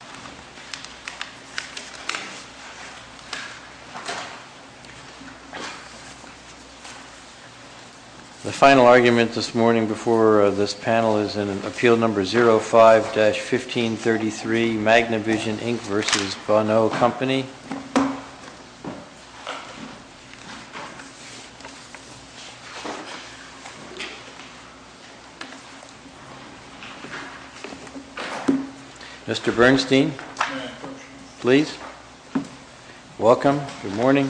The final argument this morning before this panel is in Appeal No. 05-1533, Magnivision Inc v. Bonneau Company. Mr. Bernstein, please. Welcome. Good morning.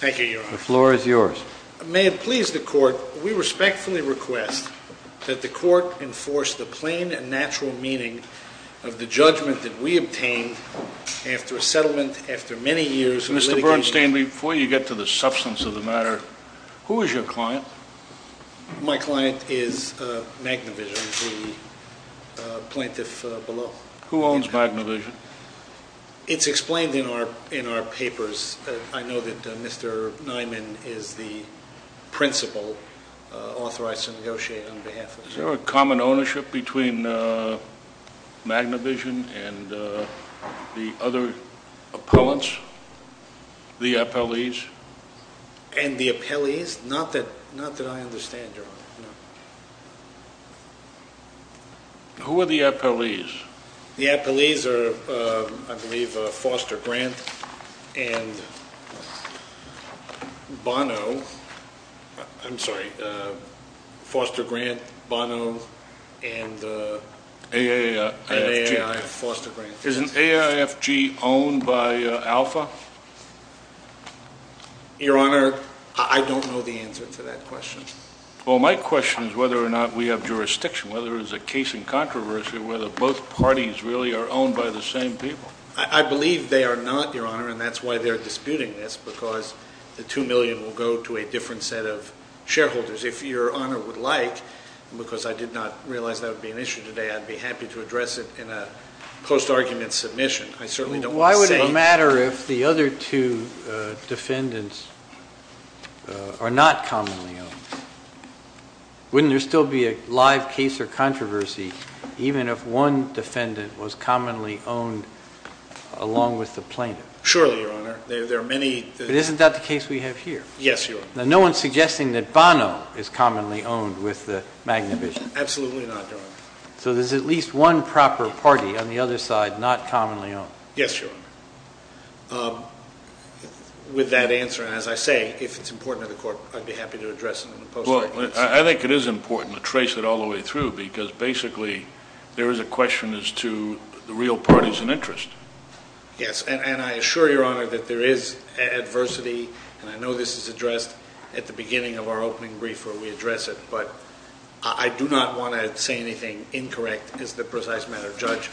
The floor is yours. May it please the Court, we respectfully request that the Court enforce the plain and natural meaning of the judgment that we obtained after a settlement, after many years of litigation. Mr. Bernstein, before you get to the substance of the matter, who is your client? My client is Magnivision, the plaintiff below. Who owns Magnivision? It's explained in our papers. I know that Mr. Nyman is the principal authorized to negotiate on behalf of it. Is there a common ownership between Magnivision and the other appellants, the appellees? And the appellees? Not that I understand, Your Honor. Who are the appellees? The appellees are, I believe, Foster Grant and Bonneau. I'm sorry, Foster Grant, Bonneau, and AAIFG. Is AAIFG owned by Alpha? Your Honor, I don't know the answer to that question. Well, my question is whether or not we have jurisdiction, whether it's a case in controversy, whether both parties really are owned by the same people. I believe they are not, Your Honor, and that's why they're disputing this, because the $2 million will go to a different set of shareholders. If Your Honor would like, because I did not realize that would be an issue today, I'd be happy to address it in a post-argument submission. I certainly don't want to say... Why would it matter if the other two defendants are not commonly owned? Wouldn't there still be a live case or controversy even if one defendant was commonly owned along with the plaintiff? Surely, Your Honor. There are many... But isn't that the case we have here? Yes, Your Honor. Now, no one's suggesting that Bonneau is commonly owned with the Magnavision. Absolutely not, Your Honor. So there's at least one proper party on the other side not commonly owned? Yes, Your Honor. With that answer, as I say, if it's important to the Court, I'd be happy to address it in a post-argument submission. Well, I think it is important to trace it all the way through, because basically there is a question as to the real parties in interest. Yes, and I assure Your Honor that there is adversity, and I know this is addressed at the beginning of our opening brief where we address it, but I do not want to say anything incorrect as to the precise matter. Judge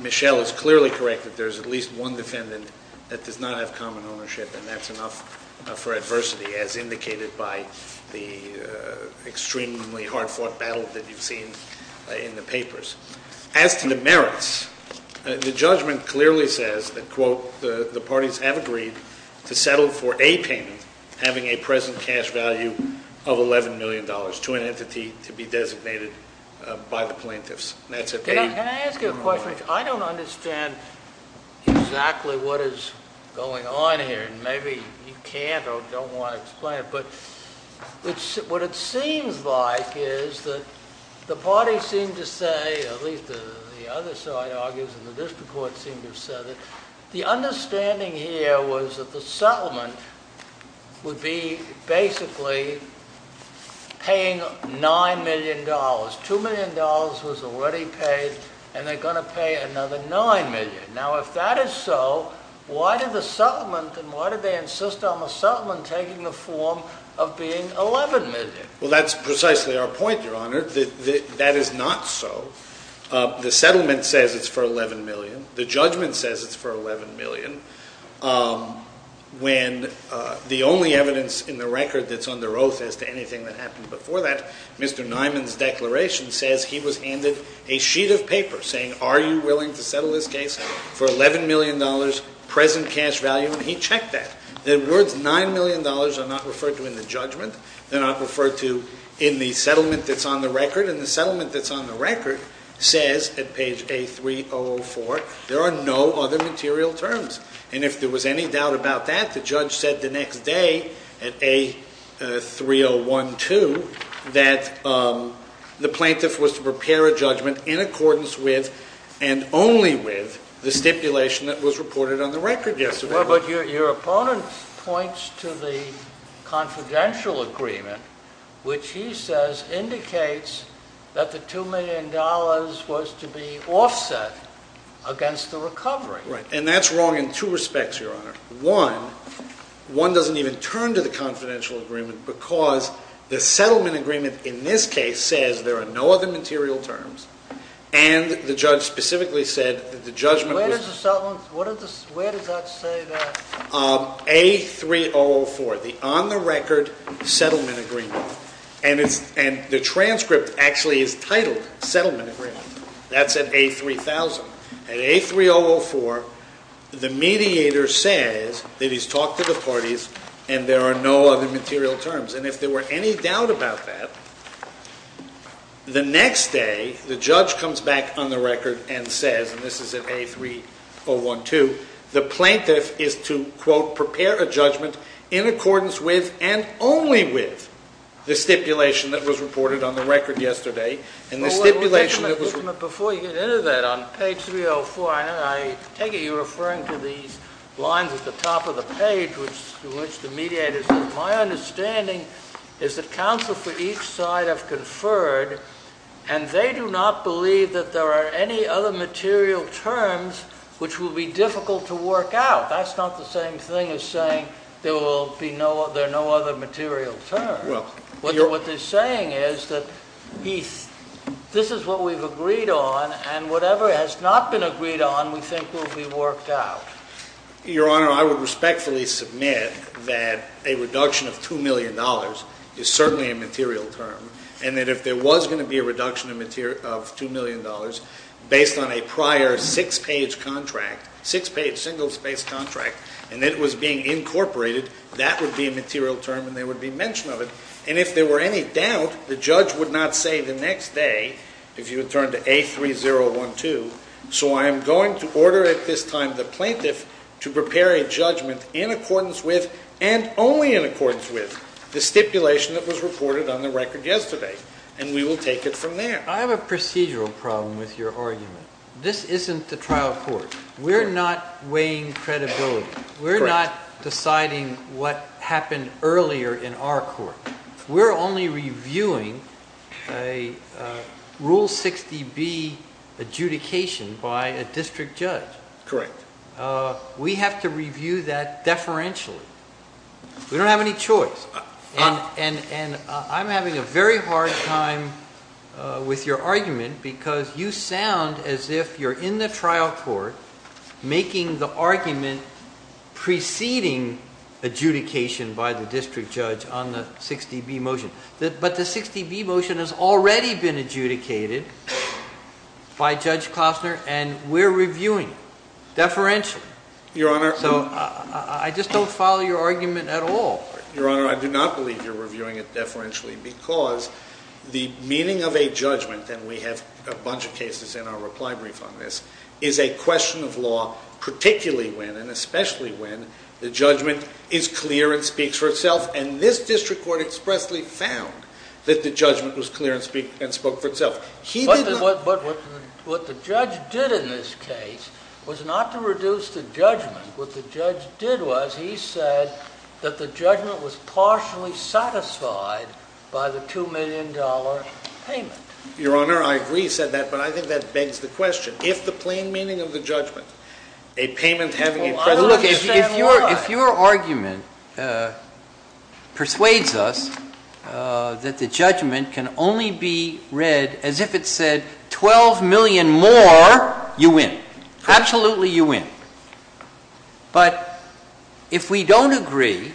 Michel is clearly correct that there's at least one defendant that does not have common ownership, and that's enough for adversity as indicated by the extremely hard-fought battle that you've seen in the papers. As to the merits, the judgment clearly says that, quote, the parties have agreed to settle for a payment having a present cash value of $11 million to an entity to be designated by the plaintiffs. And that's a... Can I ask you a question? I don't understand exactly what is going on here, and maybe you can't or don't want to explain it, but what it seems like is that the parties seem to say, at least the other side argues and the district court seems to have said it, the understanding here was that the settlement would be basically paying $9 million. $2 million was already paid, and they're going to pay another $9 million. Now, if that is so, why did the settlement, and why did they insist on the settlement taking the form of being $11 million? Well, that's precisely our point, Your Honor. That is not so. The settlement says it's for $11 million. The judgment says it's for $11 million. When the only evidence in the record that's under oath as to anything that happened before that, Mr. Nyman's declaration says he was handed a sheet of paper saying, are you willing to settle this case for $11 million, present cash value, and he checked that. The words $9 million are not referred to in the judgment. They're not referred to in the settlement that's on the record, and the settlement that's on the record says, at page A-3-0-0-4, there are no other material terms. And if there was any doubt about that, the judge said the next day at A-3-0-1-2 that the plaintiff was to prepare a judgment in accordance with, and only with, the stipulation that was reported on the record yesterday. Well, but your opponent points to the confidential agreement, which he says indicates that the $2 million was to be offset against the recovery. Right. And that's wrong in two respects, Your Honor. One, one doesn't even turn to the confidential agreement, because the settlement agreement in this case says there are no other material terms, and the judge specifically said that the judgment was... Where does the settlement, where does the, where does that say that? A-3-0-0-4, the on the record settlement agreement. And it's, and the transcript actually is titled settlement agreement. That's at A-3-000. At A-3-0-0-4, the mediator says that he's talked to the parties, and there are no other material terms. And if there were any doubt about that, the next day, the judge comes back on the record and says, and this is at A-3-0-1-2, the plaintiff is to, quote, prepare a judgment in accordance with, and only with, the stipulation that was reported on the record yesterday. And the stipulation that was... Well, wait a minute, wait a minute. Before you get into that, on page 3-0-4, I know, and I take it you're referring to these lines at the top of the page, which the mediator said, my understanding is that counsel for each side have conferred, and they do not believe that there are any other material terms which will be difficult to work out. That's not the same thing as saying there will be no, there are no other material terms. Well, your... What they're saying is that he's, this is what we've agreed on, and whatever has not been agreed on, we think will be worked out. Your Honor, I would respectfully submit that a reduction of $2 million is certainly a material term, and that if there was going to be a reduction of $2 million based on a prior six-page contract, six-page single-space contract, and it was being incorporated, that would be a material term, and there would be mention of it. And if there were any doubt, the judge would not say the next day, if you would turn to A-3-0-1-2, so I am going to order at this time the plaintiff to prepare a judgment in accordance with, and only in accordance with, the stipulation that was reported on the record yesterday, and we will take it from there. I have a procedural problem with your argument. This isn't the trial court. We're not weighing credibility. Correct. We're not deciding what happened earlier in our court. We're only reviewing a Rule 60B adjudication by a district judge. Correct. We have to review that deferentially. We don't have any choice, and I'm having a very hard time with your argument because you sound as if you're in the trial court making the preceding adjudication by the district judge on the 60B motion. But the 60B motion has already been adjudicated by Judge Kostner, and we're reviewing deferentially. Your Honor. So I just don't follow your argument at all. Your Honor, I do not believe you're reviewing it deferentially because the meaning of a judgment, and we have a bunch of cases in our reply brief on this, is a question of when the judgment is clear and speaks for itself, and this district court expressly found that the judgment was clear and spoke for itself. But what the judge did in this case was not to reduce the judgment. What the judge did was he said that the judgment was partially satisfied by the $2 million payment. Your Honor, I agree he said that, but I think that begs the question. If the plain meaning of the judgment, a payment having a precedent... Look, if your argument persuades us that the judgment can only be read as if it said $12 million more, you win. Absolutely, you win. But if we don't agree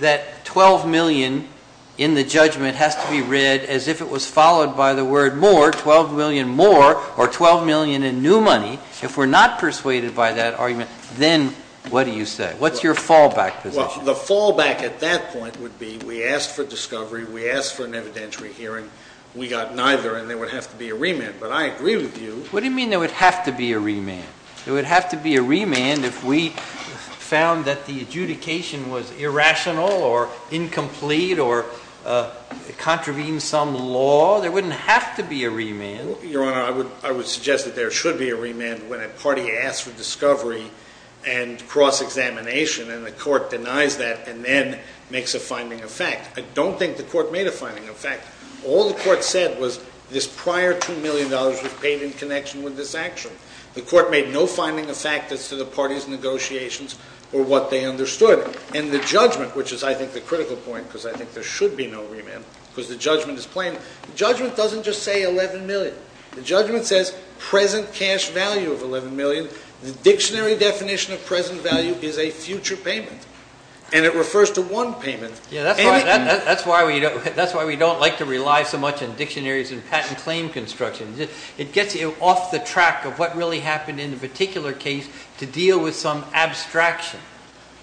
that $12 million in the judgment has to be read as if it was followed by the word more, $12 million more, or $12 million in new money, if we're not persuaded by that argument, then what do you say? What's your fallback position? Well, the fallback at that point would be we asked for discovery, we asked for an evidentiary hearing, we got neither, and there would have to be a remand. But I agree with you... What do you mean there would have to be a remand? There would have to be a remand if we found that the adjudication was irrational or incomplete or contravenes some law? There wouldn't have to be a remand. Your Honor, I would suggest that there should be a remand when a party asks for discovery and cross-examination and the court denies that and then makes a finding of fact. I don't think the court made a finding of fact. All the court said was this prior $2 million was paid in connection with this action. The court made no finding of fact as to the party's negotiations or what they understood. And the judgment, which is, I think, the critical point, because I think there should be no remand, because the judgment is plain. The judgment says present cash value of $11 million. The dictionary definition of present value is a future payment. And it refers to one payment. That's why we don't like to rely so much on dictionaries and patent claim construction. It gets you off the track of what really happened in the particular case to deal with some abstraction.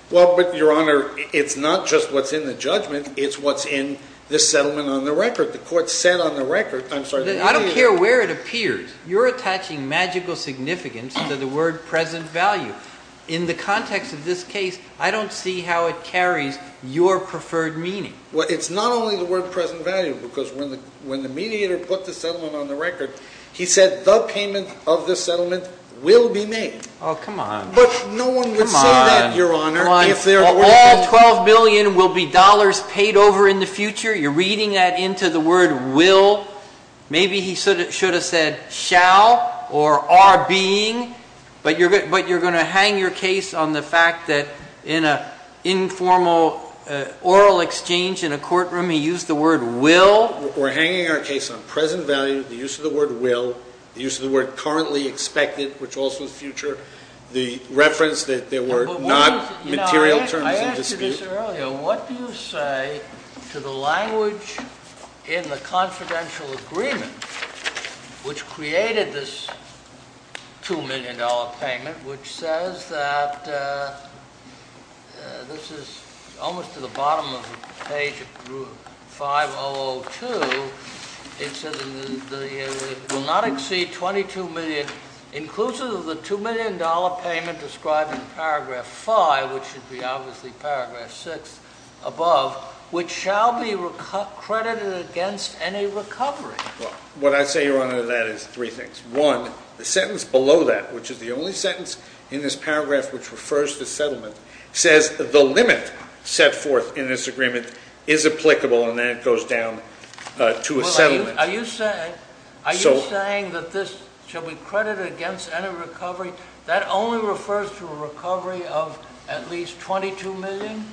Well, but, Your Honor, it's not just what's in the judgment. It's what's in the settlement on the record. The court said on the record... I don't care where it appears. You're attaching magical significance to the word present value. In the context of this case, I don't see how it carries your preferred meaning. Well, it's not only the word present value, because when the mediator put the settlement on the record, he said the payment of this settlement will be made. Oh, come on. But no one would say that, Your Honor, if there were... Come on. All $12 million will be dollars paid over in the future. You're reading that into the word will. Maybe he should have said shall or are being, but you're going to hang your case on the fact that in an informal oral exchange in a courtroom, he used the word will. We're hanging our case on present value, the use of the word will, the use of the word currently expected, which also is future, the reference that there were not material terms of dispute. You said this earlier. What do you say to the language in the confidential agreement which created this $2 million payment, which says that... This is almost to the bottom of the page, 5002. It says it will not exceed $22 million, inclusive of the $2 million payment described in paragraph five, which should be obviously paragraph six above, which shall be credited against any recovery. Well, what I say, Your Honor, to that is three things. One, the sentence below that, which is the only sentence in this paragraph which refers to settlement, says the limit set forth in this agreement is applicable, and then it goes down to a settlement. Are you saying that this shall be credited against any recovery? That only refers to a recovery of at least $22 million?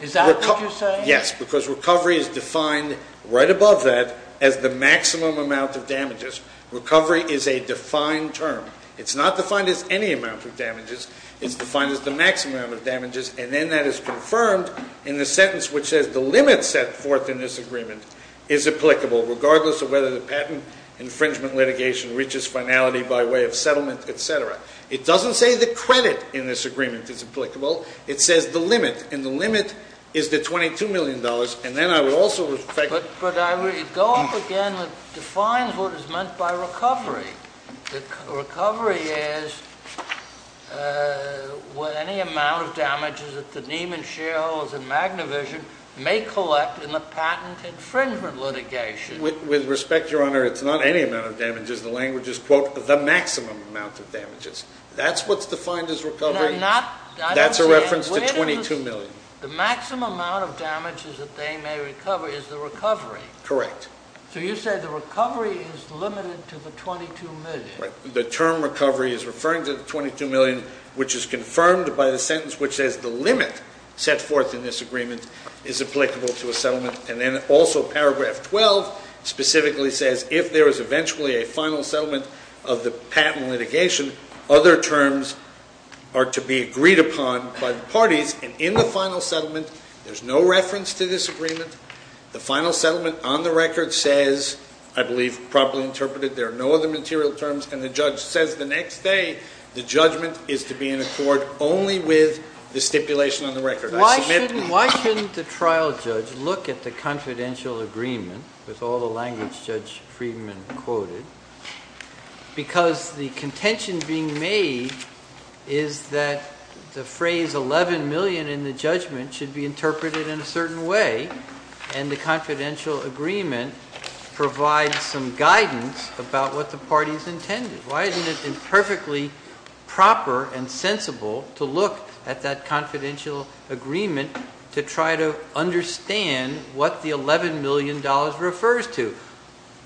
Is that what you're saying? Yes, because recovery is defined right above that as the maximum amount of damages. Recovery is a defined term. It's not defined as any amount of damages. It's defined as the maximum amount of damages, and then that is confirmed in the sentence which says the limit set forth in this agreement is applicable, regardless of whether the patent infringement litigation reaches finality by way of settlement, etc. It doesn't say the credit in this agreement is applicable. It says the limit, and the limit is the $22 million, and then I would also... But I would go up again and define what is meant by recovery. Recovery is any amount of damages that the Neiman shareholders in Magnavision may collect in the patent infringement litigation. With respect, Your Honor, it's not any amount of damages. The language is, quote, the maximum amount of damages. That's what's defined as recovery. And I'm not... That's a reference to $22 million. The maximum amount of damages that they may recover is the recovery. Correct. So you say the recovery is limited to the $22 million. The term recovery is referring to the $22 million, which is confirmed by the sentence which says the limit set forth in this agreement is applicable to a settlement, and then also paragraph 12 specifically says if there is eventually a final settlement of the patent litigation, other terms are to be agreed upon by the parties, and in the final settlement there's no reference to this agreement. The final settlement on the record says, I believe properly interpreted, there are no other material terms, and the judge says the next day the judgment is to be in accord only with the stipulation on the record. Why shouldn't the trial judge look at the confidential agreement with all the language Judge Friedman quoted? Because the contention being made is that the phrase $11 million in the judgment should be interpreted in a certain way, and the confidential agreement provides some guidance about what the parties intended. Why isn't it perfectly proper and sensible to look at that confidential agreement to try to understand what the $11 million refers to?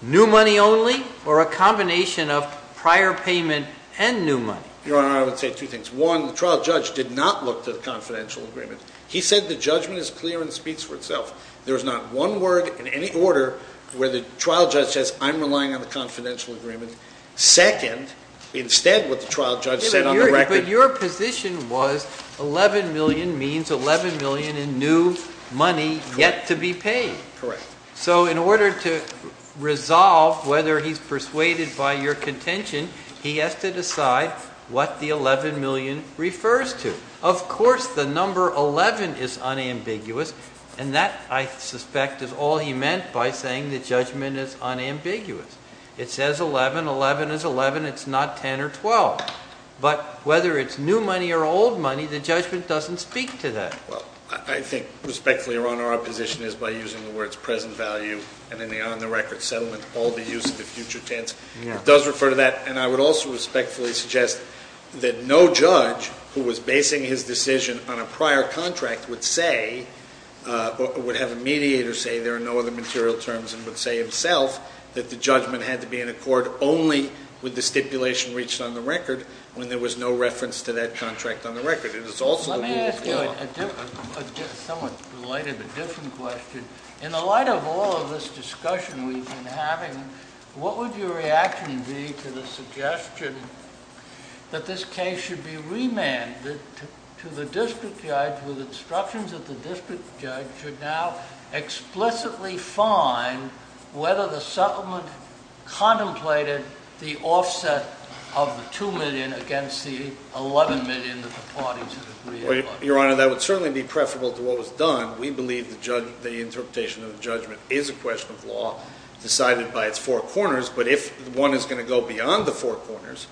New money only, or a combination of prior payment and new money? Your Honor, I would say two things. One, the trial judge did not look to the confidential agreement. He said the judgment is clear and speaks for itself. There is not one word in any order where the trial judge says I'm relying on the confidential agreement. Second, instead what the trial judge said on the record... But your position was $11 million means $11 million in new money yet to be paid. Correct. So in order to resolve whether he's persuaded by your contention, he has to decide what the $11 million refers to. Of course the number 11 is unambiguous, and that, I suspect, is all he meant by saying the judgment is unambiguous. It says 11. 11 is 11. It's not 10 or 12. But whether it's new money or old money, the judgment doesn't speak to that. Well, I think, respectfully, your Honor, our position is by using the words present value and in the on-the-record settlement, all the use of the future tense, it does refer to that. And I would also respectfully suggest that no judge who was basing his decision on a or no other material terms and would say himself that the judgment had to be in accord only with the stipulation reached on the record when there was no reference to that contract on the record. It is also... Let me ask you a somewhat related but different question. In the light of all of this discussion we've been having, what would your reaction be to the suggestion that this case should be remanded to the district judge with instructions that the district judge should now explicitly find whether the settlement contemplated the offset of the $2 million against the $11 million that the parties had agreed upon? Your Honor, that would certainly be preferable to what was done. We believe the interpretation of the judgment is a question of law decided by its four corners. But if one is going to go beyond the four corners,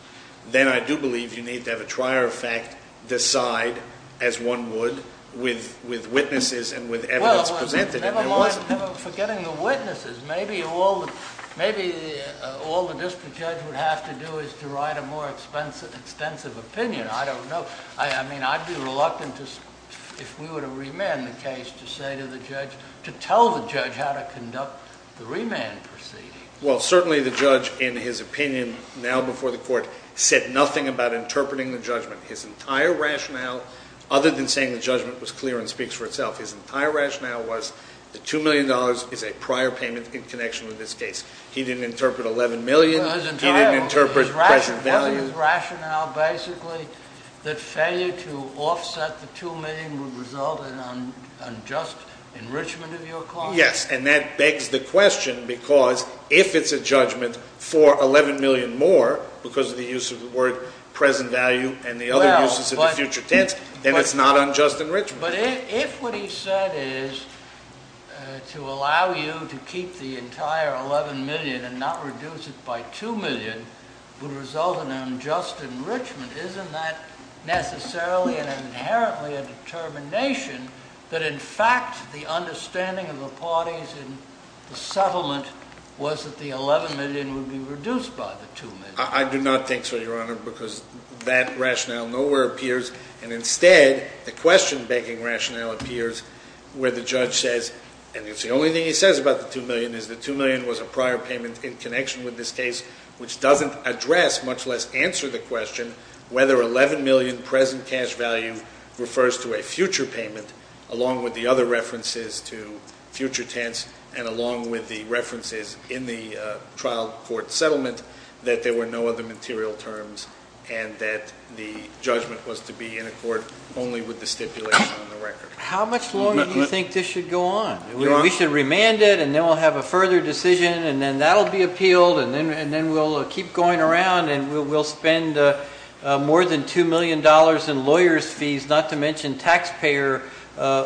then I do believe you need to have a trier of fact decide as one would with witnesses and with evidence presented. Well, never mind forgetting the witnesses. Maybe all the district judge would have to do is to write a more extensive opinion. I don't know. I mean, I'd be reluctant if we were to remand the case to say to the judge, to tell the judge how to conduct the remand proceeding. Well, certainly the judge in his opinion now before the court said nothing about interpreting the judgment. His entire rationale, other than saying the judgment was clear and speaks for itself, his entire rationale was the $2 million is a prior payment in connection with this case. He didn't interpret $11 million. He didn't interpret present value. Wasn't his rationale basically that failure to offset the $2 million would result in unjust enrichment of your costs? Yes. And that begs the question because if it's a judgment for $11 million more because of the use of the word present value and the other uses of the future tense, then it's not unjust enrichment. But if what he said is to allow you to keep the entire $11 million and not reduce it by $2 million would result in unjust enrichment, isn't that necessarily and inherently a determination that in fact the understanding of the parties in the settlement was that the $11 million would be reduced by the $2 million? I do not think so, Your Honor, because that rationale nowhere appears. And instead, the question-begging rationale appears where the judge says, and it's the only thing he says about the $2 million, is the $2 million was a prior payment in connection with this case, which doesn't address, much less answer the question, whether $11 million present cash value refers to a future payment along with the other references to future tense and along with the references in the trial court settlement that there were no other material terms and that the judgment was to be in accord only with the stipulation on the record. How much longer do you think this should go on? We should remand it and then we'll have a further decision and then that'll be appealed and then we'll keep going around and we'll spend more than $2 million in lawyers' fees, not to mention taxpayer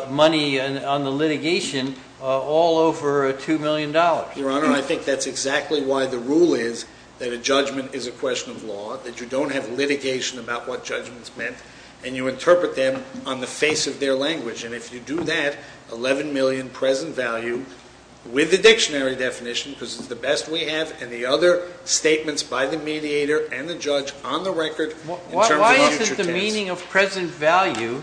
money on the litigation, all over $2 million. Your Honor, I think that's exactly why the rule is that a judgment is a question of law, that you don't have litigation about what judgment's meant, and you interpret them on the face of their language. And if you do that, $11 million present value, with the dictionary definition, because it's the best we have and the other statements by the mediator and the judge on the record in terms of future tense. Why isn't the meaning of present value,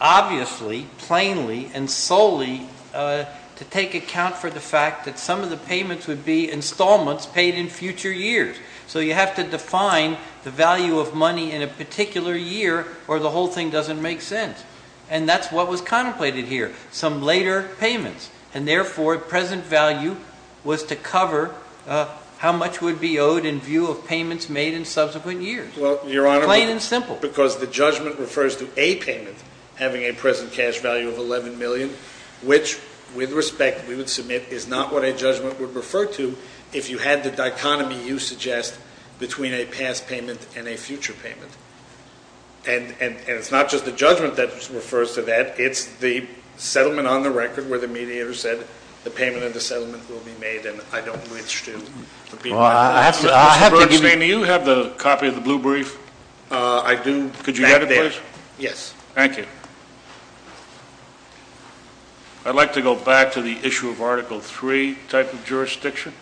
obviously, plainly, and solely, to take account for the fact that some of the payments would be installments paid in future years? So you have to define the value of money in a particular year or the whole thing doesn't make sense. And that's what was contemplated here, some later payments. And therefore, present value was to cover how much would be owed in view of payments made in subsequent years. Well, Your Honor, Plain and simple. Because the judgment refers to a payment having a present cash value of $11 million, which, with respect, we would submit is not what a judgment would refer to if you had the dichotomy you suggest between a past payment and a future payment. And it's not just the judgment that refers to that. It's the settlement on the record where the mediator said the payment and the settlement will be made, and I don't wish to repeat that. Well, I have to give you Mr. Bernstein, do you have the copy of the blue brief? I do. Could you get it, please? Yes. Thank you. I'd like to go back to the issue of Article 3 type of jurisdiction.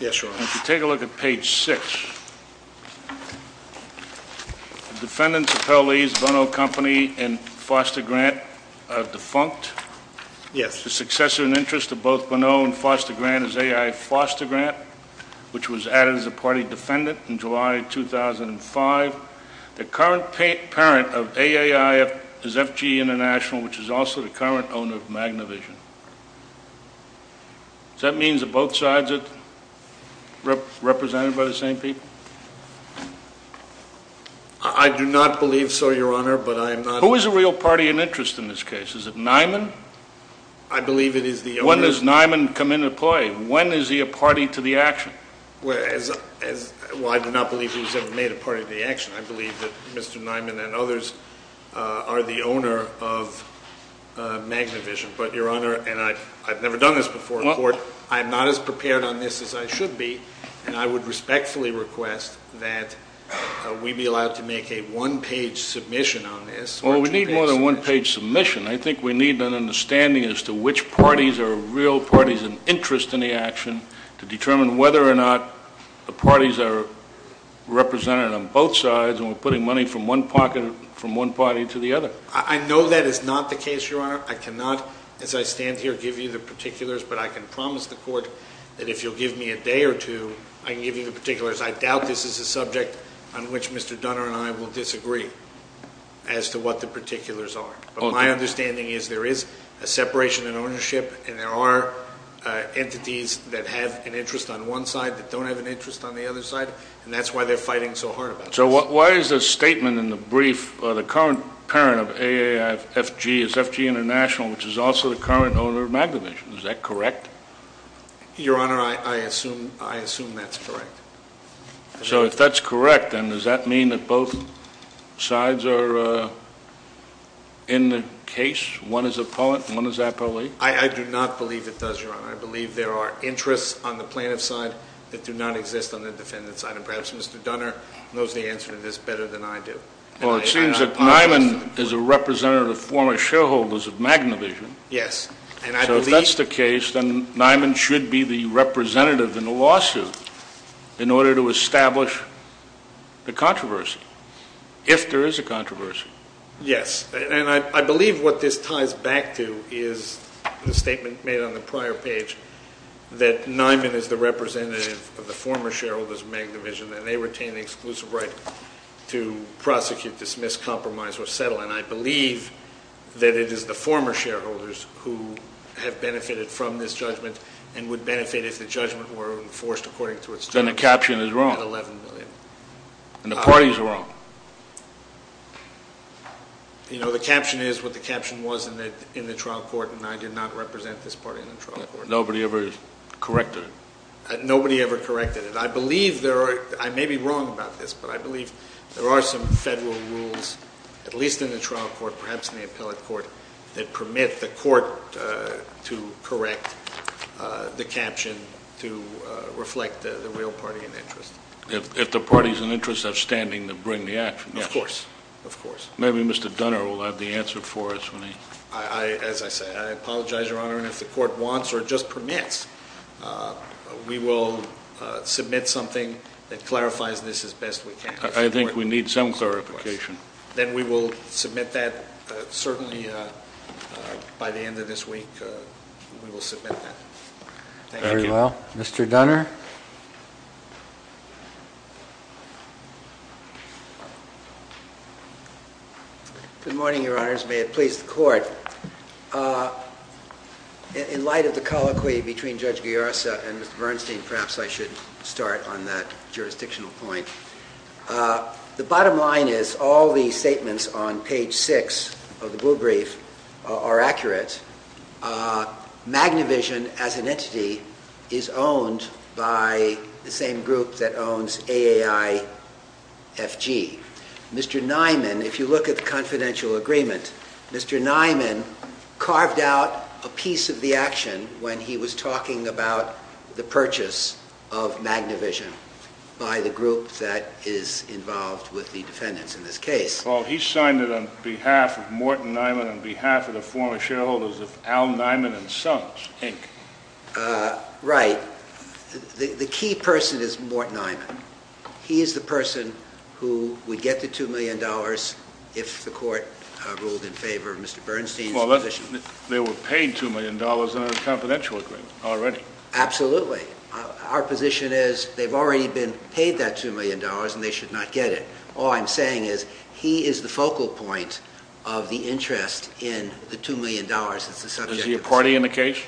Yes, Your Honor. If you take a look at page 6, the defendants appellees Bono Company and Foster Grant are defunct. Yes. The successor in interest of both Bono and Foster Grant is A.I. Foster Grant, which was added as a party defendant in July 2005. The current parent of A.A.I. is F.G. International, which is also the current owner of Magna Vision. Does that mean that both sides are represented by the same people? I do not believe so, Your Honor, but I am not... Who is a real party in interest in this case? Is it Nyman? I believe it is the owner... When does Nyman come into play? When is he a party to the action? Well, I do not believe he was ever made a party to the action. I believe that Mr. Nyman and others are the owner of Magna Vision. But, Your Honor, and I have never done this before in court, I am not as prepared on this as I should be, and I would respectfully request that we be allowed to make a one-page submission on this. Well, we need more than one-page submission. I think we need an understanding as to which parties are real parties in interest in the action to determine whether or not the parties are represented on both sides, and we are putting money from one party to the other. I know that is not the case, Your Honor. I cannot, as I stand here, give you the particulars, but I can promise the Court that if you will give me a day or two, I can give you the particulars. I doubt this is a subject on which Mr. Dunner and I will disagree as to what the particulars are. But my understanding is there is a separation in ownership, and there are entities that have an interest on one side that do not have an interest on the other side, So why is the statement in the brief, the current parent of AAFG is FG International, which is also the current owner of MagnaVision? Is that correct? Your Honor, I assume that is correct. So if that is correct, then does that mean that both sides are in the case? One is a poet and one is a police? I do not believe it does, Your Honor. I believe there are interests on the plaintiff's side that do not exist on the defendant's side, and perhaps Mr. Dunner knows the answer to this better than I do. Well, it seems that Niman is a representative of former shareholders of MagnaVision. Yes. So if that is the case, then Niman should be the representative in the lawsuit in order to establish the controversy, if there is a controversy. Yes. And I believe what this ties back to is the statement made on the prior page that Niman is the representative of the former shareholders of MagnaVision and they retain the exclusive right to prosecute, dismiss, compromise, or settle. And I believe that it is the former shareholders who have benefited from this judgment and would benefit if the judgment were enforced according to its terms. Then the caption is wrong. At $11 million. And the parties are wrong. You know, the caption is what the caption was in the trial court, and I did not represent this party in the trial court. Nobody ever corrected it. Nobody ever corrected it. I may be wrong about this, but I believe there are some federal rules, at least in the trial court, perhaps in the appellate court, that permit the court to correct the caption to reflect the real party in interest. If the party is in interest of standing to bring the action. Of course. Maybe Mr. Dunner will have the answer for us. As I say, I apologize, Your Honor, and if the court wants or just permits, we will submit something that clarifies this as best we can. I think we need some clarification. Then we will submit that certainly by the end of this week. We will submit that. Thank you. Very well. Mr. Dunner. Good morning, Your Honors. May it please the court. In light of the colloquy between Judge Gaiarsa and Mr. Bernstein, perhaps I should start on that jurisdictional point. The bottom line is all the statements on page six of the rule brief are accurate. Magna Vision, as an entity, is owned by the same group that owns AAIFG. Mr. Niman, if you look at the confidential agreement, Mr. Niman carved out a piece of the action when he was talking about the purchase of Magna Vision by the group that is involved with the defendants in this case. Well, he signed it on behalf of Morton Niman on behalf of the former shareholders of Al Niman & Sons, Inc. Right. The key person is Morton Niman. He is the person who would get the $2 million if the court ruled in favor of Mr. Bernstein's position. Well, they were paid $2 million in a confidential agreement already. Absolutely. Our position is they've already been paid that $2 million and they should not get it. All I'm saying is he is the focal point of the interest in the $2 million. Is he a party in the case?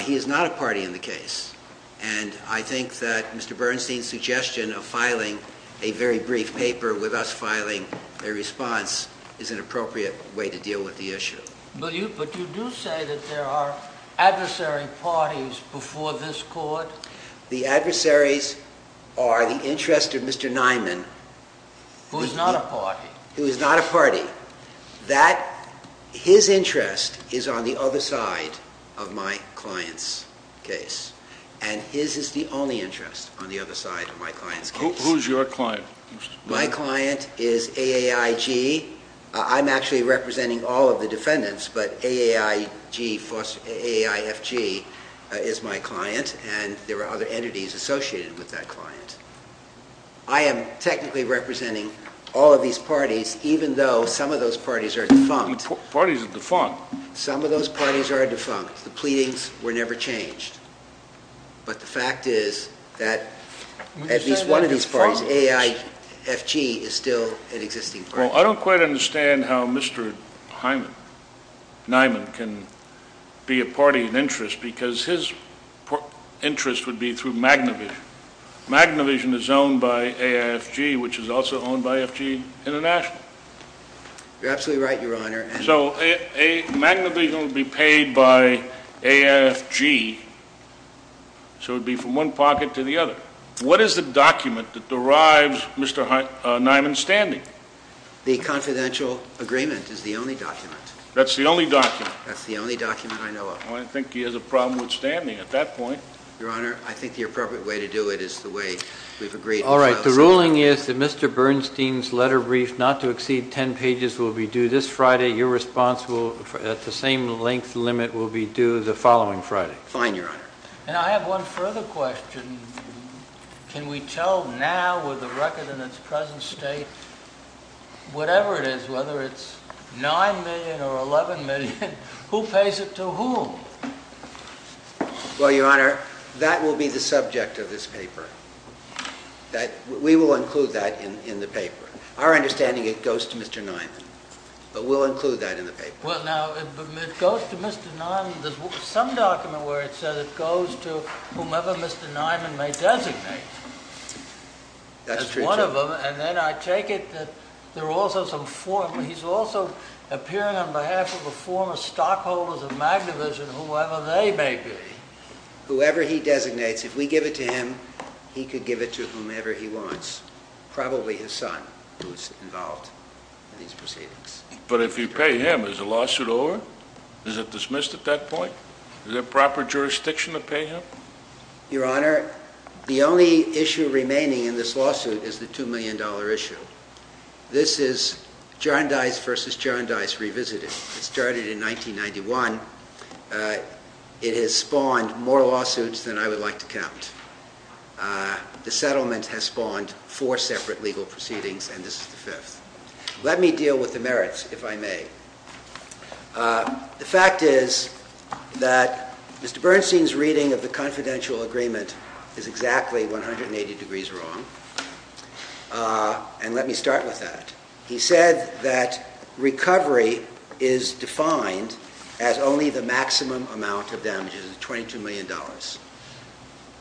He is not a party in the case. And I think that Mr. Bernstein's suggestion of filing a very brief paper with us filing a response is an appropriate way to deal with the issue. But you do say that there are adversary parties before this court? The adversaries are the interest of Mr. Niman. Who is not a party. Who is not a party. His interest is on the other side of my client's case. And his is the only interest on the other side of my client's case. Who is your client? My client is AAIG. I'm actually representing all of the defendants, but AAIFG is my client. And there are other entities associated with that client. I am technically representing all of these parties, even though some of those parties are defunct. Parties are defunct? Some of those parties are defunct. The pleadings were never changed. But the fact is that at least one of these parties, AAIFG, is still an existing party. Well, I don't quite understand how Mr. Niman can be a party in interest because his interest would be through magnification. Magnification is owned by AAIFG, which is also owned by FG International. You're absolutely right, Your Honor. So, magnification would be paid by AAIFG, so it would be from one pocket to the other. What is the document that derives Mr. Niman's standing? The confidential agreement is the only document. That's the only document? That's the only document I know of. Well, I think he has a problem with standing at that point. Your Honor, I think the appropriate way to do it is the way we've agreed. All right. The ruling is that Mr. Bernstein's letter brief, not to exceed 10 pages, will be due this Friday. Your response at the same length limit will be due the following Friday. Fine, Your Honor. And I have one further question. Can we tell now with the record in its present state, whatever it is, whether it's $9 million or $11 million, who pays it to whom? Well, Your Honor, that will be the subject of this paper. We will include that in the paper. Our understanding is it goes to Mr. Niman, but we'll include that in the paper. Well, now, if it goes to Mr. Niman, there's some document where it says it goes to whomever Mr. Niman may designate. That's true, too. And then I take it that there are also some forms. He's also appearing on behalf of the former stockholders of Magnavision, whoever they may be. Whoever he designates, if we give it to him, he could give it to whomever he wants, probably his son, who's involved in these proceedings. But if you pay him, is the lawsuit over? Is it dismissed at that point? Is there proper jurisdiction to pay him? Your Honor, the only issue remaining in this lawsuit is the $2 million issue. This is Jarndyce versus Jarndyce revisited. It started in 1991. It has spawned more lawsuits than I would like to count. The settlement has spawned four separate legal proceedings, and this is the fifth. Let me deal with the merits, if I may. The fact is that Mr. Bernstein's reading of the confidential agreement is exactly 180 degrees wrong, and let me start with that. He said that recovery is defined as only the maximum amount of damages, $22 million.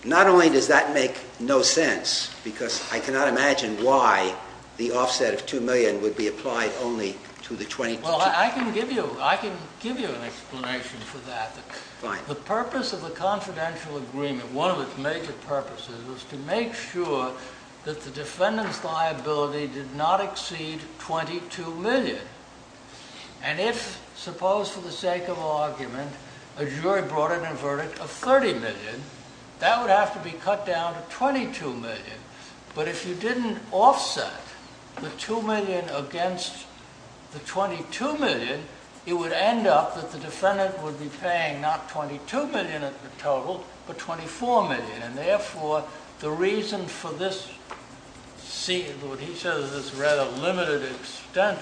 Not only does that make no sense, because I cannot imagine why the offset of $2 million would be applied only to the $22 million. Well, I can give you an explanation for that. The purpose of the confidential agreement, one of its major purposes, was to make sure that the defendant's liability did not exceed $22 million. And if, suppose for the sake of argument, a jury brought in a verdict of $30 million, that would have to be cut down to $22 million. But if you didn't offset the $2 million against the $22 million, it would end up that the defendant would be paying not $22 million at the total, but $24 million. And therefore, the reason for this rather limited extent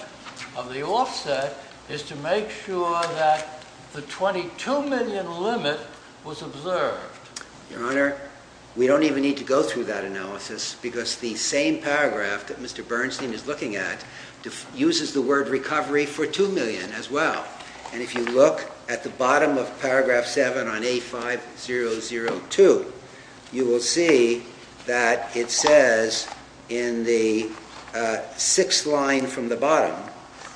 of the offset is to make sure that the $22 million limit was observed. Your Honor, we don't even need to go through that analysis, because the same paragraph that Mr. Bernstein is looking at uses the word recovery for $2 million as well. And if you look at the bottom of paragraph 7 on A5002, you will see that it says in the sixth line from the bottom,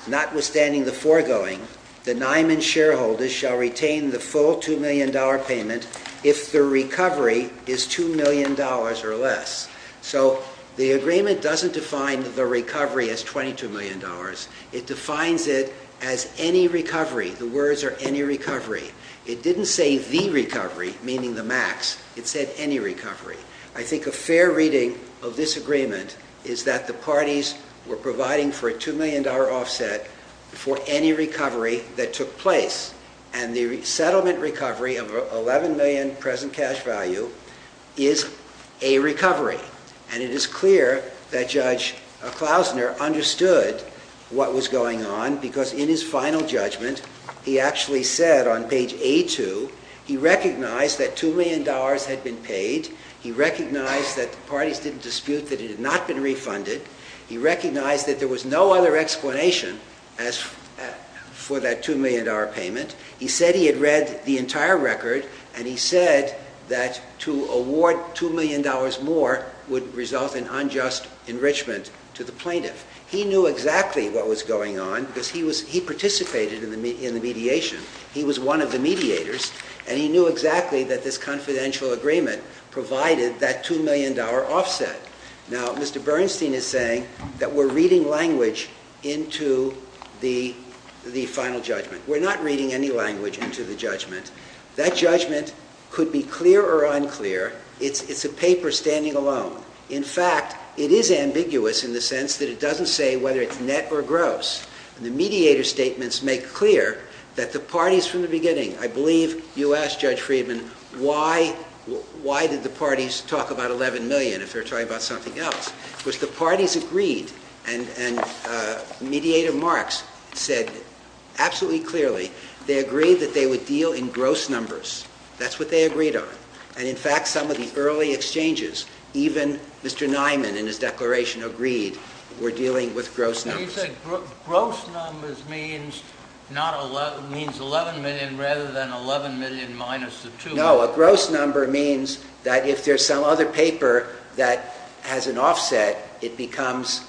notwithstanding the foregoing, the Niman shareholders shall retain the full $2 million payment if the recovery is $2 million or less. So the agreement doesn't define the recovery as $22 million. It defines it as any recovery. The words are any recovery. It didn't say the recovery, meaning the max. It said any recovery. I think a fair reading of this agreement is that the parties were providing for a $2 million offset for any recovery that took place. And the settlement recovery of $11 million present cash value is a recovery. And it is clear that Judge Klausner understood what was going on, because in his final judgment, he actually said on page A2, he recognized that $2 million had been paid. He recognized that the parties didn't dispute that it had not been refunded. He recognized that there was no other explanation for that $2 million payment. He said he had read the entire record, and he said that to award $2 million more would result in unjust enrichment to the plaintiff. He knew exactly what was going on, because he participated in the mediation. He was one of the mediators, and he knew exactly that this confidential agreement provided that $2 million offset. Now, Mr. Bernstein is saying that we're reading language into the final judgment. We're not reading any language into the judgment. That judgment could be clear or unclear. It's a paper standing alone. In fact, it is ambiguous in the sense that it doesn't say whether it's net or gross. The mediator statements make clear that the parties from the beginning – I believe you asked, Judge Friedman, why did the parties talk about $11 million if they're talking about something else? Because the parties agreed, and Mediator Marks said absolutely clearly they agreed that they would deal in gross numbers. That's what they agreed on. In fact, some of the early exchanges, even Mr. Nyman in his declaration agreed, were dealing with gross numbers. You said gross numbers means $11 million rather than $11 million minus the $2 million. No, a gross number means that if there's some other paper that has an offset, it becomes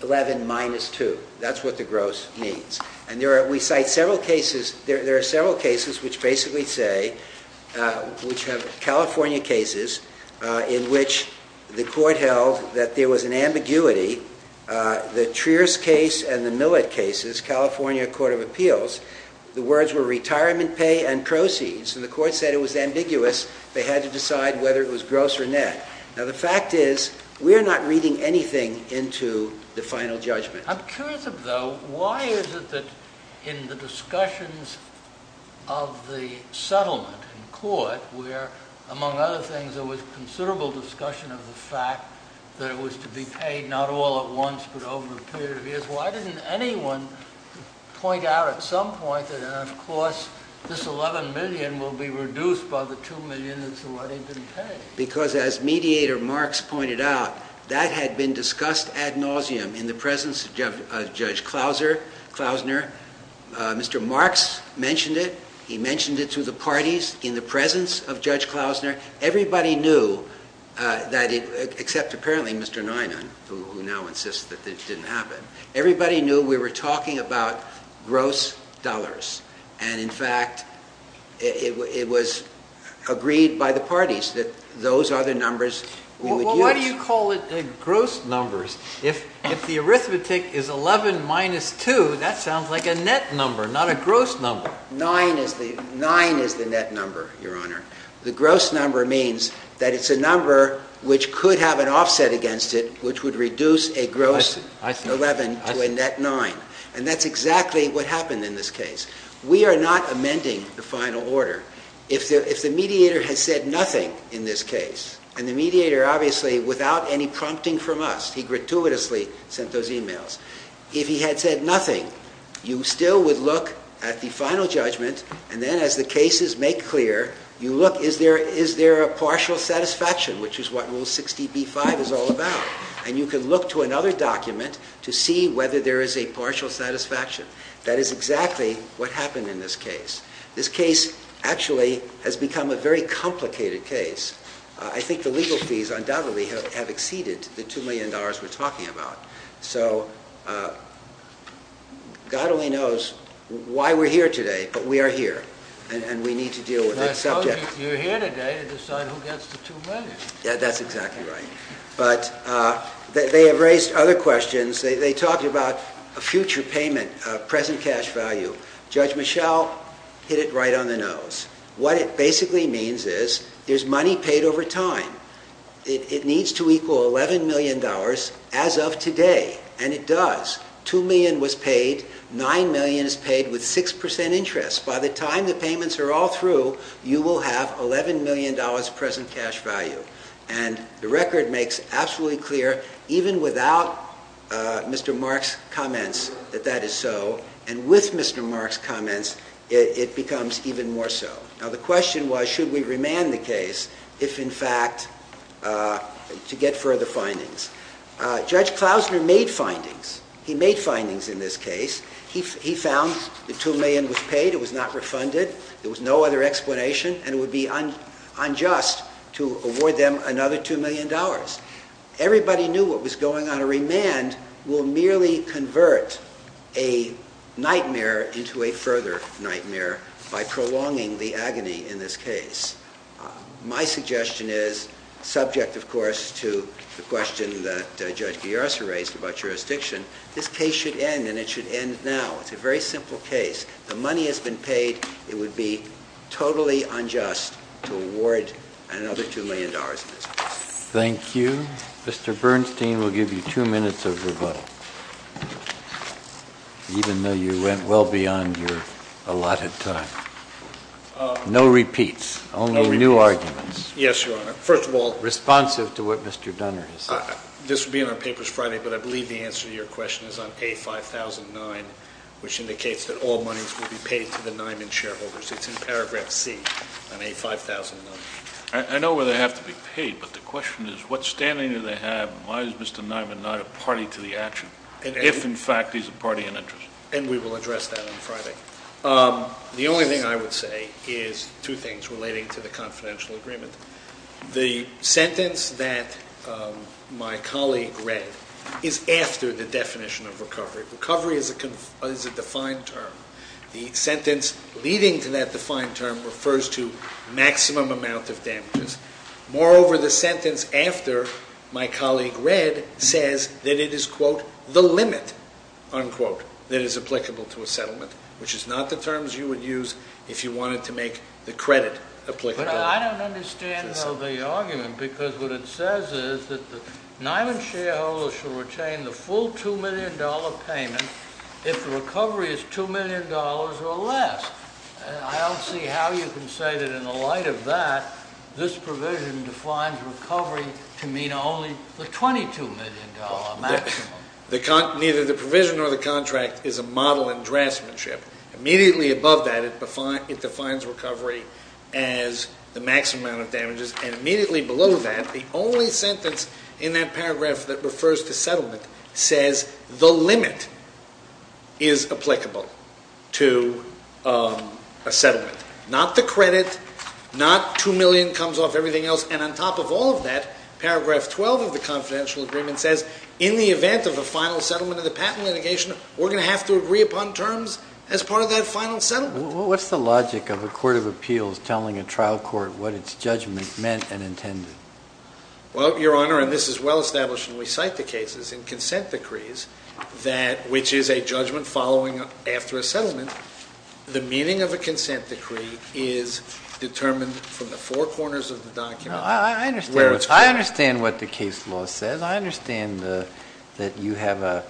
$11 million minus $2 million. That's what the gross means. We cite several cases. We cite several cases which basically say – which have California cases in which the court held that there was an ambiguity. The Trier's case and the Millett case, California Court of Appeals, the words were retirement pay and proceeds. The court said it was ambiguous. They had to decide whether it was gross or net. Now, the fact is we are not reading anything into the final judgment. I'm curious, though, why is it that in the discussions of the settlement in court where, among other things, there was considerable discussion of the fact that it was to be paid not all at once but over a period of years, why didn't anyone point out at some point that, of course, this $11 million will be reduced by the $2 million that's already been paid? Because as Mediator Marks pointed out, that had been discussed ad nauseum in the presence of Judge Klausner. Mr. Marks mentioned it. He mentioned it to the parties in the presence of Judge Klausner. Everybody knew that it – except apparently Mr. Neunen, who now insists that it didn't happen. Everybody knew we were talking about gross dollars. And, in fact, it was agreed by the parties that those are the numbers we would use. Well, why do you call it gross numbers? If the arithmetic is 11 minus 2, that sounds like a net number, not a gross number. Nine is the net number, Your Honor. The gross number means that it's a number which could have an offset against it which would reduce a gross 11 to a net 9. And that's exactly what happened in this case. We are not amending the final order. If the Mediator had said nothing in this case, and the Mediator, obviously, without any prompting from us, he gratuitously sent those e-mails. If he had said nothing, you still would look at the final judgment, and then as the cases make clear, you look, is there a partial satisfaction, which is what Rule 60b-5 is all about. And you can look to another document to see whether there is a partial satisfaction. That is exactly what happened in this case. This case, actually, has become a very complicated case. I think the legal fees, undoubtedly, have exceeded the $2 million we're talking about. So, God only knows why we're here today, but we are here, and we need to deal with this subject. You're here today to decide who gets the $2 million. That's exactly right. But they have raised other questions. They talked about a future payment, present cash value. Judge Michel hit it right on the nose. What it basically means is there's money paid over time. It needs to equal $11 million as of today, and it does. $2 million was paid. $9 million is paid with 6% interest. By the time the payments are all through, you will have $11 million present cash value. And the record makes absolutely clear, even without Mr. Mark's comments, that that is so. And with Mr. Mark's comments, it becomes even more so. Now, the question was, should we remand the case if, in fact, to get further findings? Judge Klausner made findings. He made findings in this case. He found that $2 million was paid. It was not refunded. There was no other explanation. And it would be unjust to award them another $2 million. Everybody knew what was going on. A remand will merely convert a nightmare into a further nightmare by prolonging the agony in this case. My suggestion is, subject, of course, to the question that Judge Guyarza raised about jurisdiction, this case should end, and it should end now. It's a very simple case. The money has been paid. It would be totally unjust to award another $2 million in this case. Thank you. Mr. Bernstein will give you two minutes of rebuttal, even though you went well beyond your allotted time. No repeats. Only new arguments. Yes, Your Honor. First of all- Responsive to what Mr. Dunner has said. This will be in our papers Friday, but I believe the answer to your question is on A-5009, which indicates that all monies will be paid to the Niman shareholders. It's in paragraph C on A-5009. I know where they have to be paid, but the question is, what standing do they have and why is Mr. Niman not a party to the action, if, in fact, he's a party in interest? And we will address that on Friday. The only thing I would say is two things relating to the confidential agreement. The sentence that my colleague read is after the definition of recovery. Recovery is a defined term. The sentence leading to that defined term refers to maximum amount of damages. Moreover, the sentence after my colleague read says that it is, quote, the limit, unquote, that is applicable to a settlement, which is not the terms you would use if you wanted to make the credit applicable. But I don't understand, though, the argument, because what it says is that the Niman shareholders shall retain the full $2 million payment if the recovery is $2 million or less. I don't see how you can say that in the light of that, this provision defines recovery to mean only the $22 million maximum. Neither the provision nor the contract is a model in draftsmanship. Immediately above that, it defines recovery as the maximum amount of damages. And immediately below that, the only sentence in that paragraph that refers to settlement says the limit is applicable to a settlement, not the credit, not $2 million comes off everything else. And on top of all of that, paragraph 12 of the confidential agreement says in the event of a final settlement of the patent litigation, we're going to have to agree upon terms as part of that final settlement. What's the logic of a court of appeals telling a trial court what its judgment meant and intended? Well, Your Honor, and this is well established when we cite the cases in consent decrees, which is a judgment following after a settlement, the meaning of a consent decree is determined from the four corners of the document. I understand what the case law says. I understand that you have an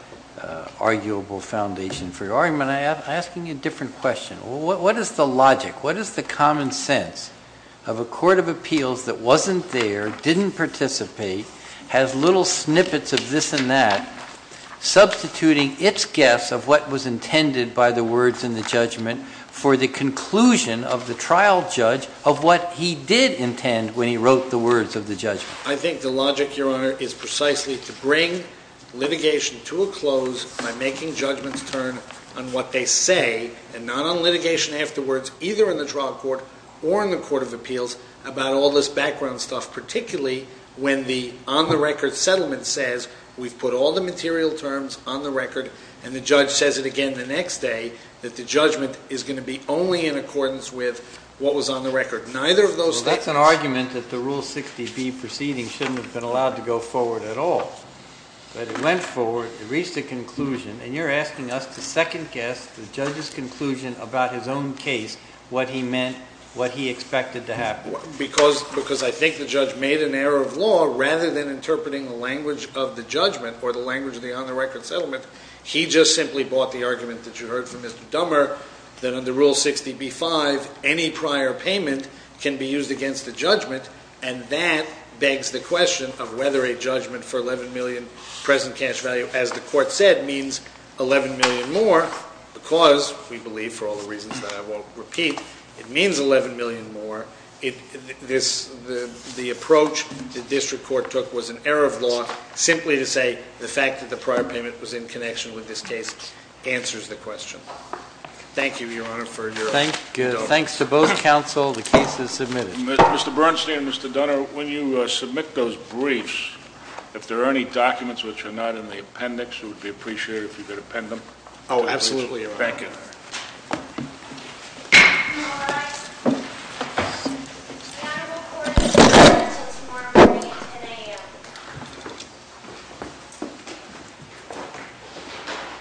arguable foundation for your argument. I'm asking you a different question. What is the logic, what is the common sense of a court of appeals that wasn't there, didn't participate, has little snippets of this and that, substituting its guess of what was intended by the words in the judgment for the conclusion of the trial judge of what he did intend when he wrote the words of the judgment? I think the logic, Your Honor, is precisely to bring litigation to a close by making judgments turn on what they say and not on litigation afterwards, either in the trial court or in the court of appeals, about all this background stuff, particularly when the on-the-record settlement says we've put all the material terms on the record and the judge says it again the next day that the judgment is going to be only in accordance with what was on the record. Well, that's an argument that the Rule 60B proceeding shouldn't have been allowed to go forward at all. But it went forward, it reached a conclusion, and you're asking us to second-guess the judge's conclusion about his own case, what he meant, what he expected to happen. Because I think the judge made an error of law, rather than interpreting the language of the judgment or the language of the on-the-record settlement, he just simply bought the argument that you heard from Mr. Dummer, that under Rule 60B-5, any prior payment can be used against the judgment, and that begs the question of whether a judgment for $11 million present cash value, as the court said, means $11 million more, because we believe, for all the reasons that I won't repeat, it means $11 million more. The approach the district court took was an error of law, simply to say the fact that the prior payment was in connection with this case answers the question. Thank you, Your Honor, for your- Thanks to both counsel, the case is submitted. Mr. Bernstein and Mr. Dunner, when you submit those briefs, if there are any documents which are not in the appendix, it would be appreciated if you could append them. Thank you. We are recorded until tomorrow morning at 10 a.m.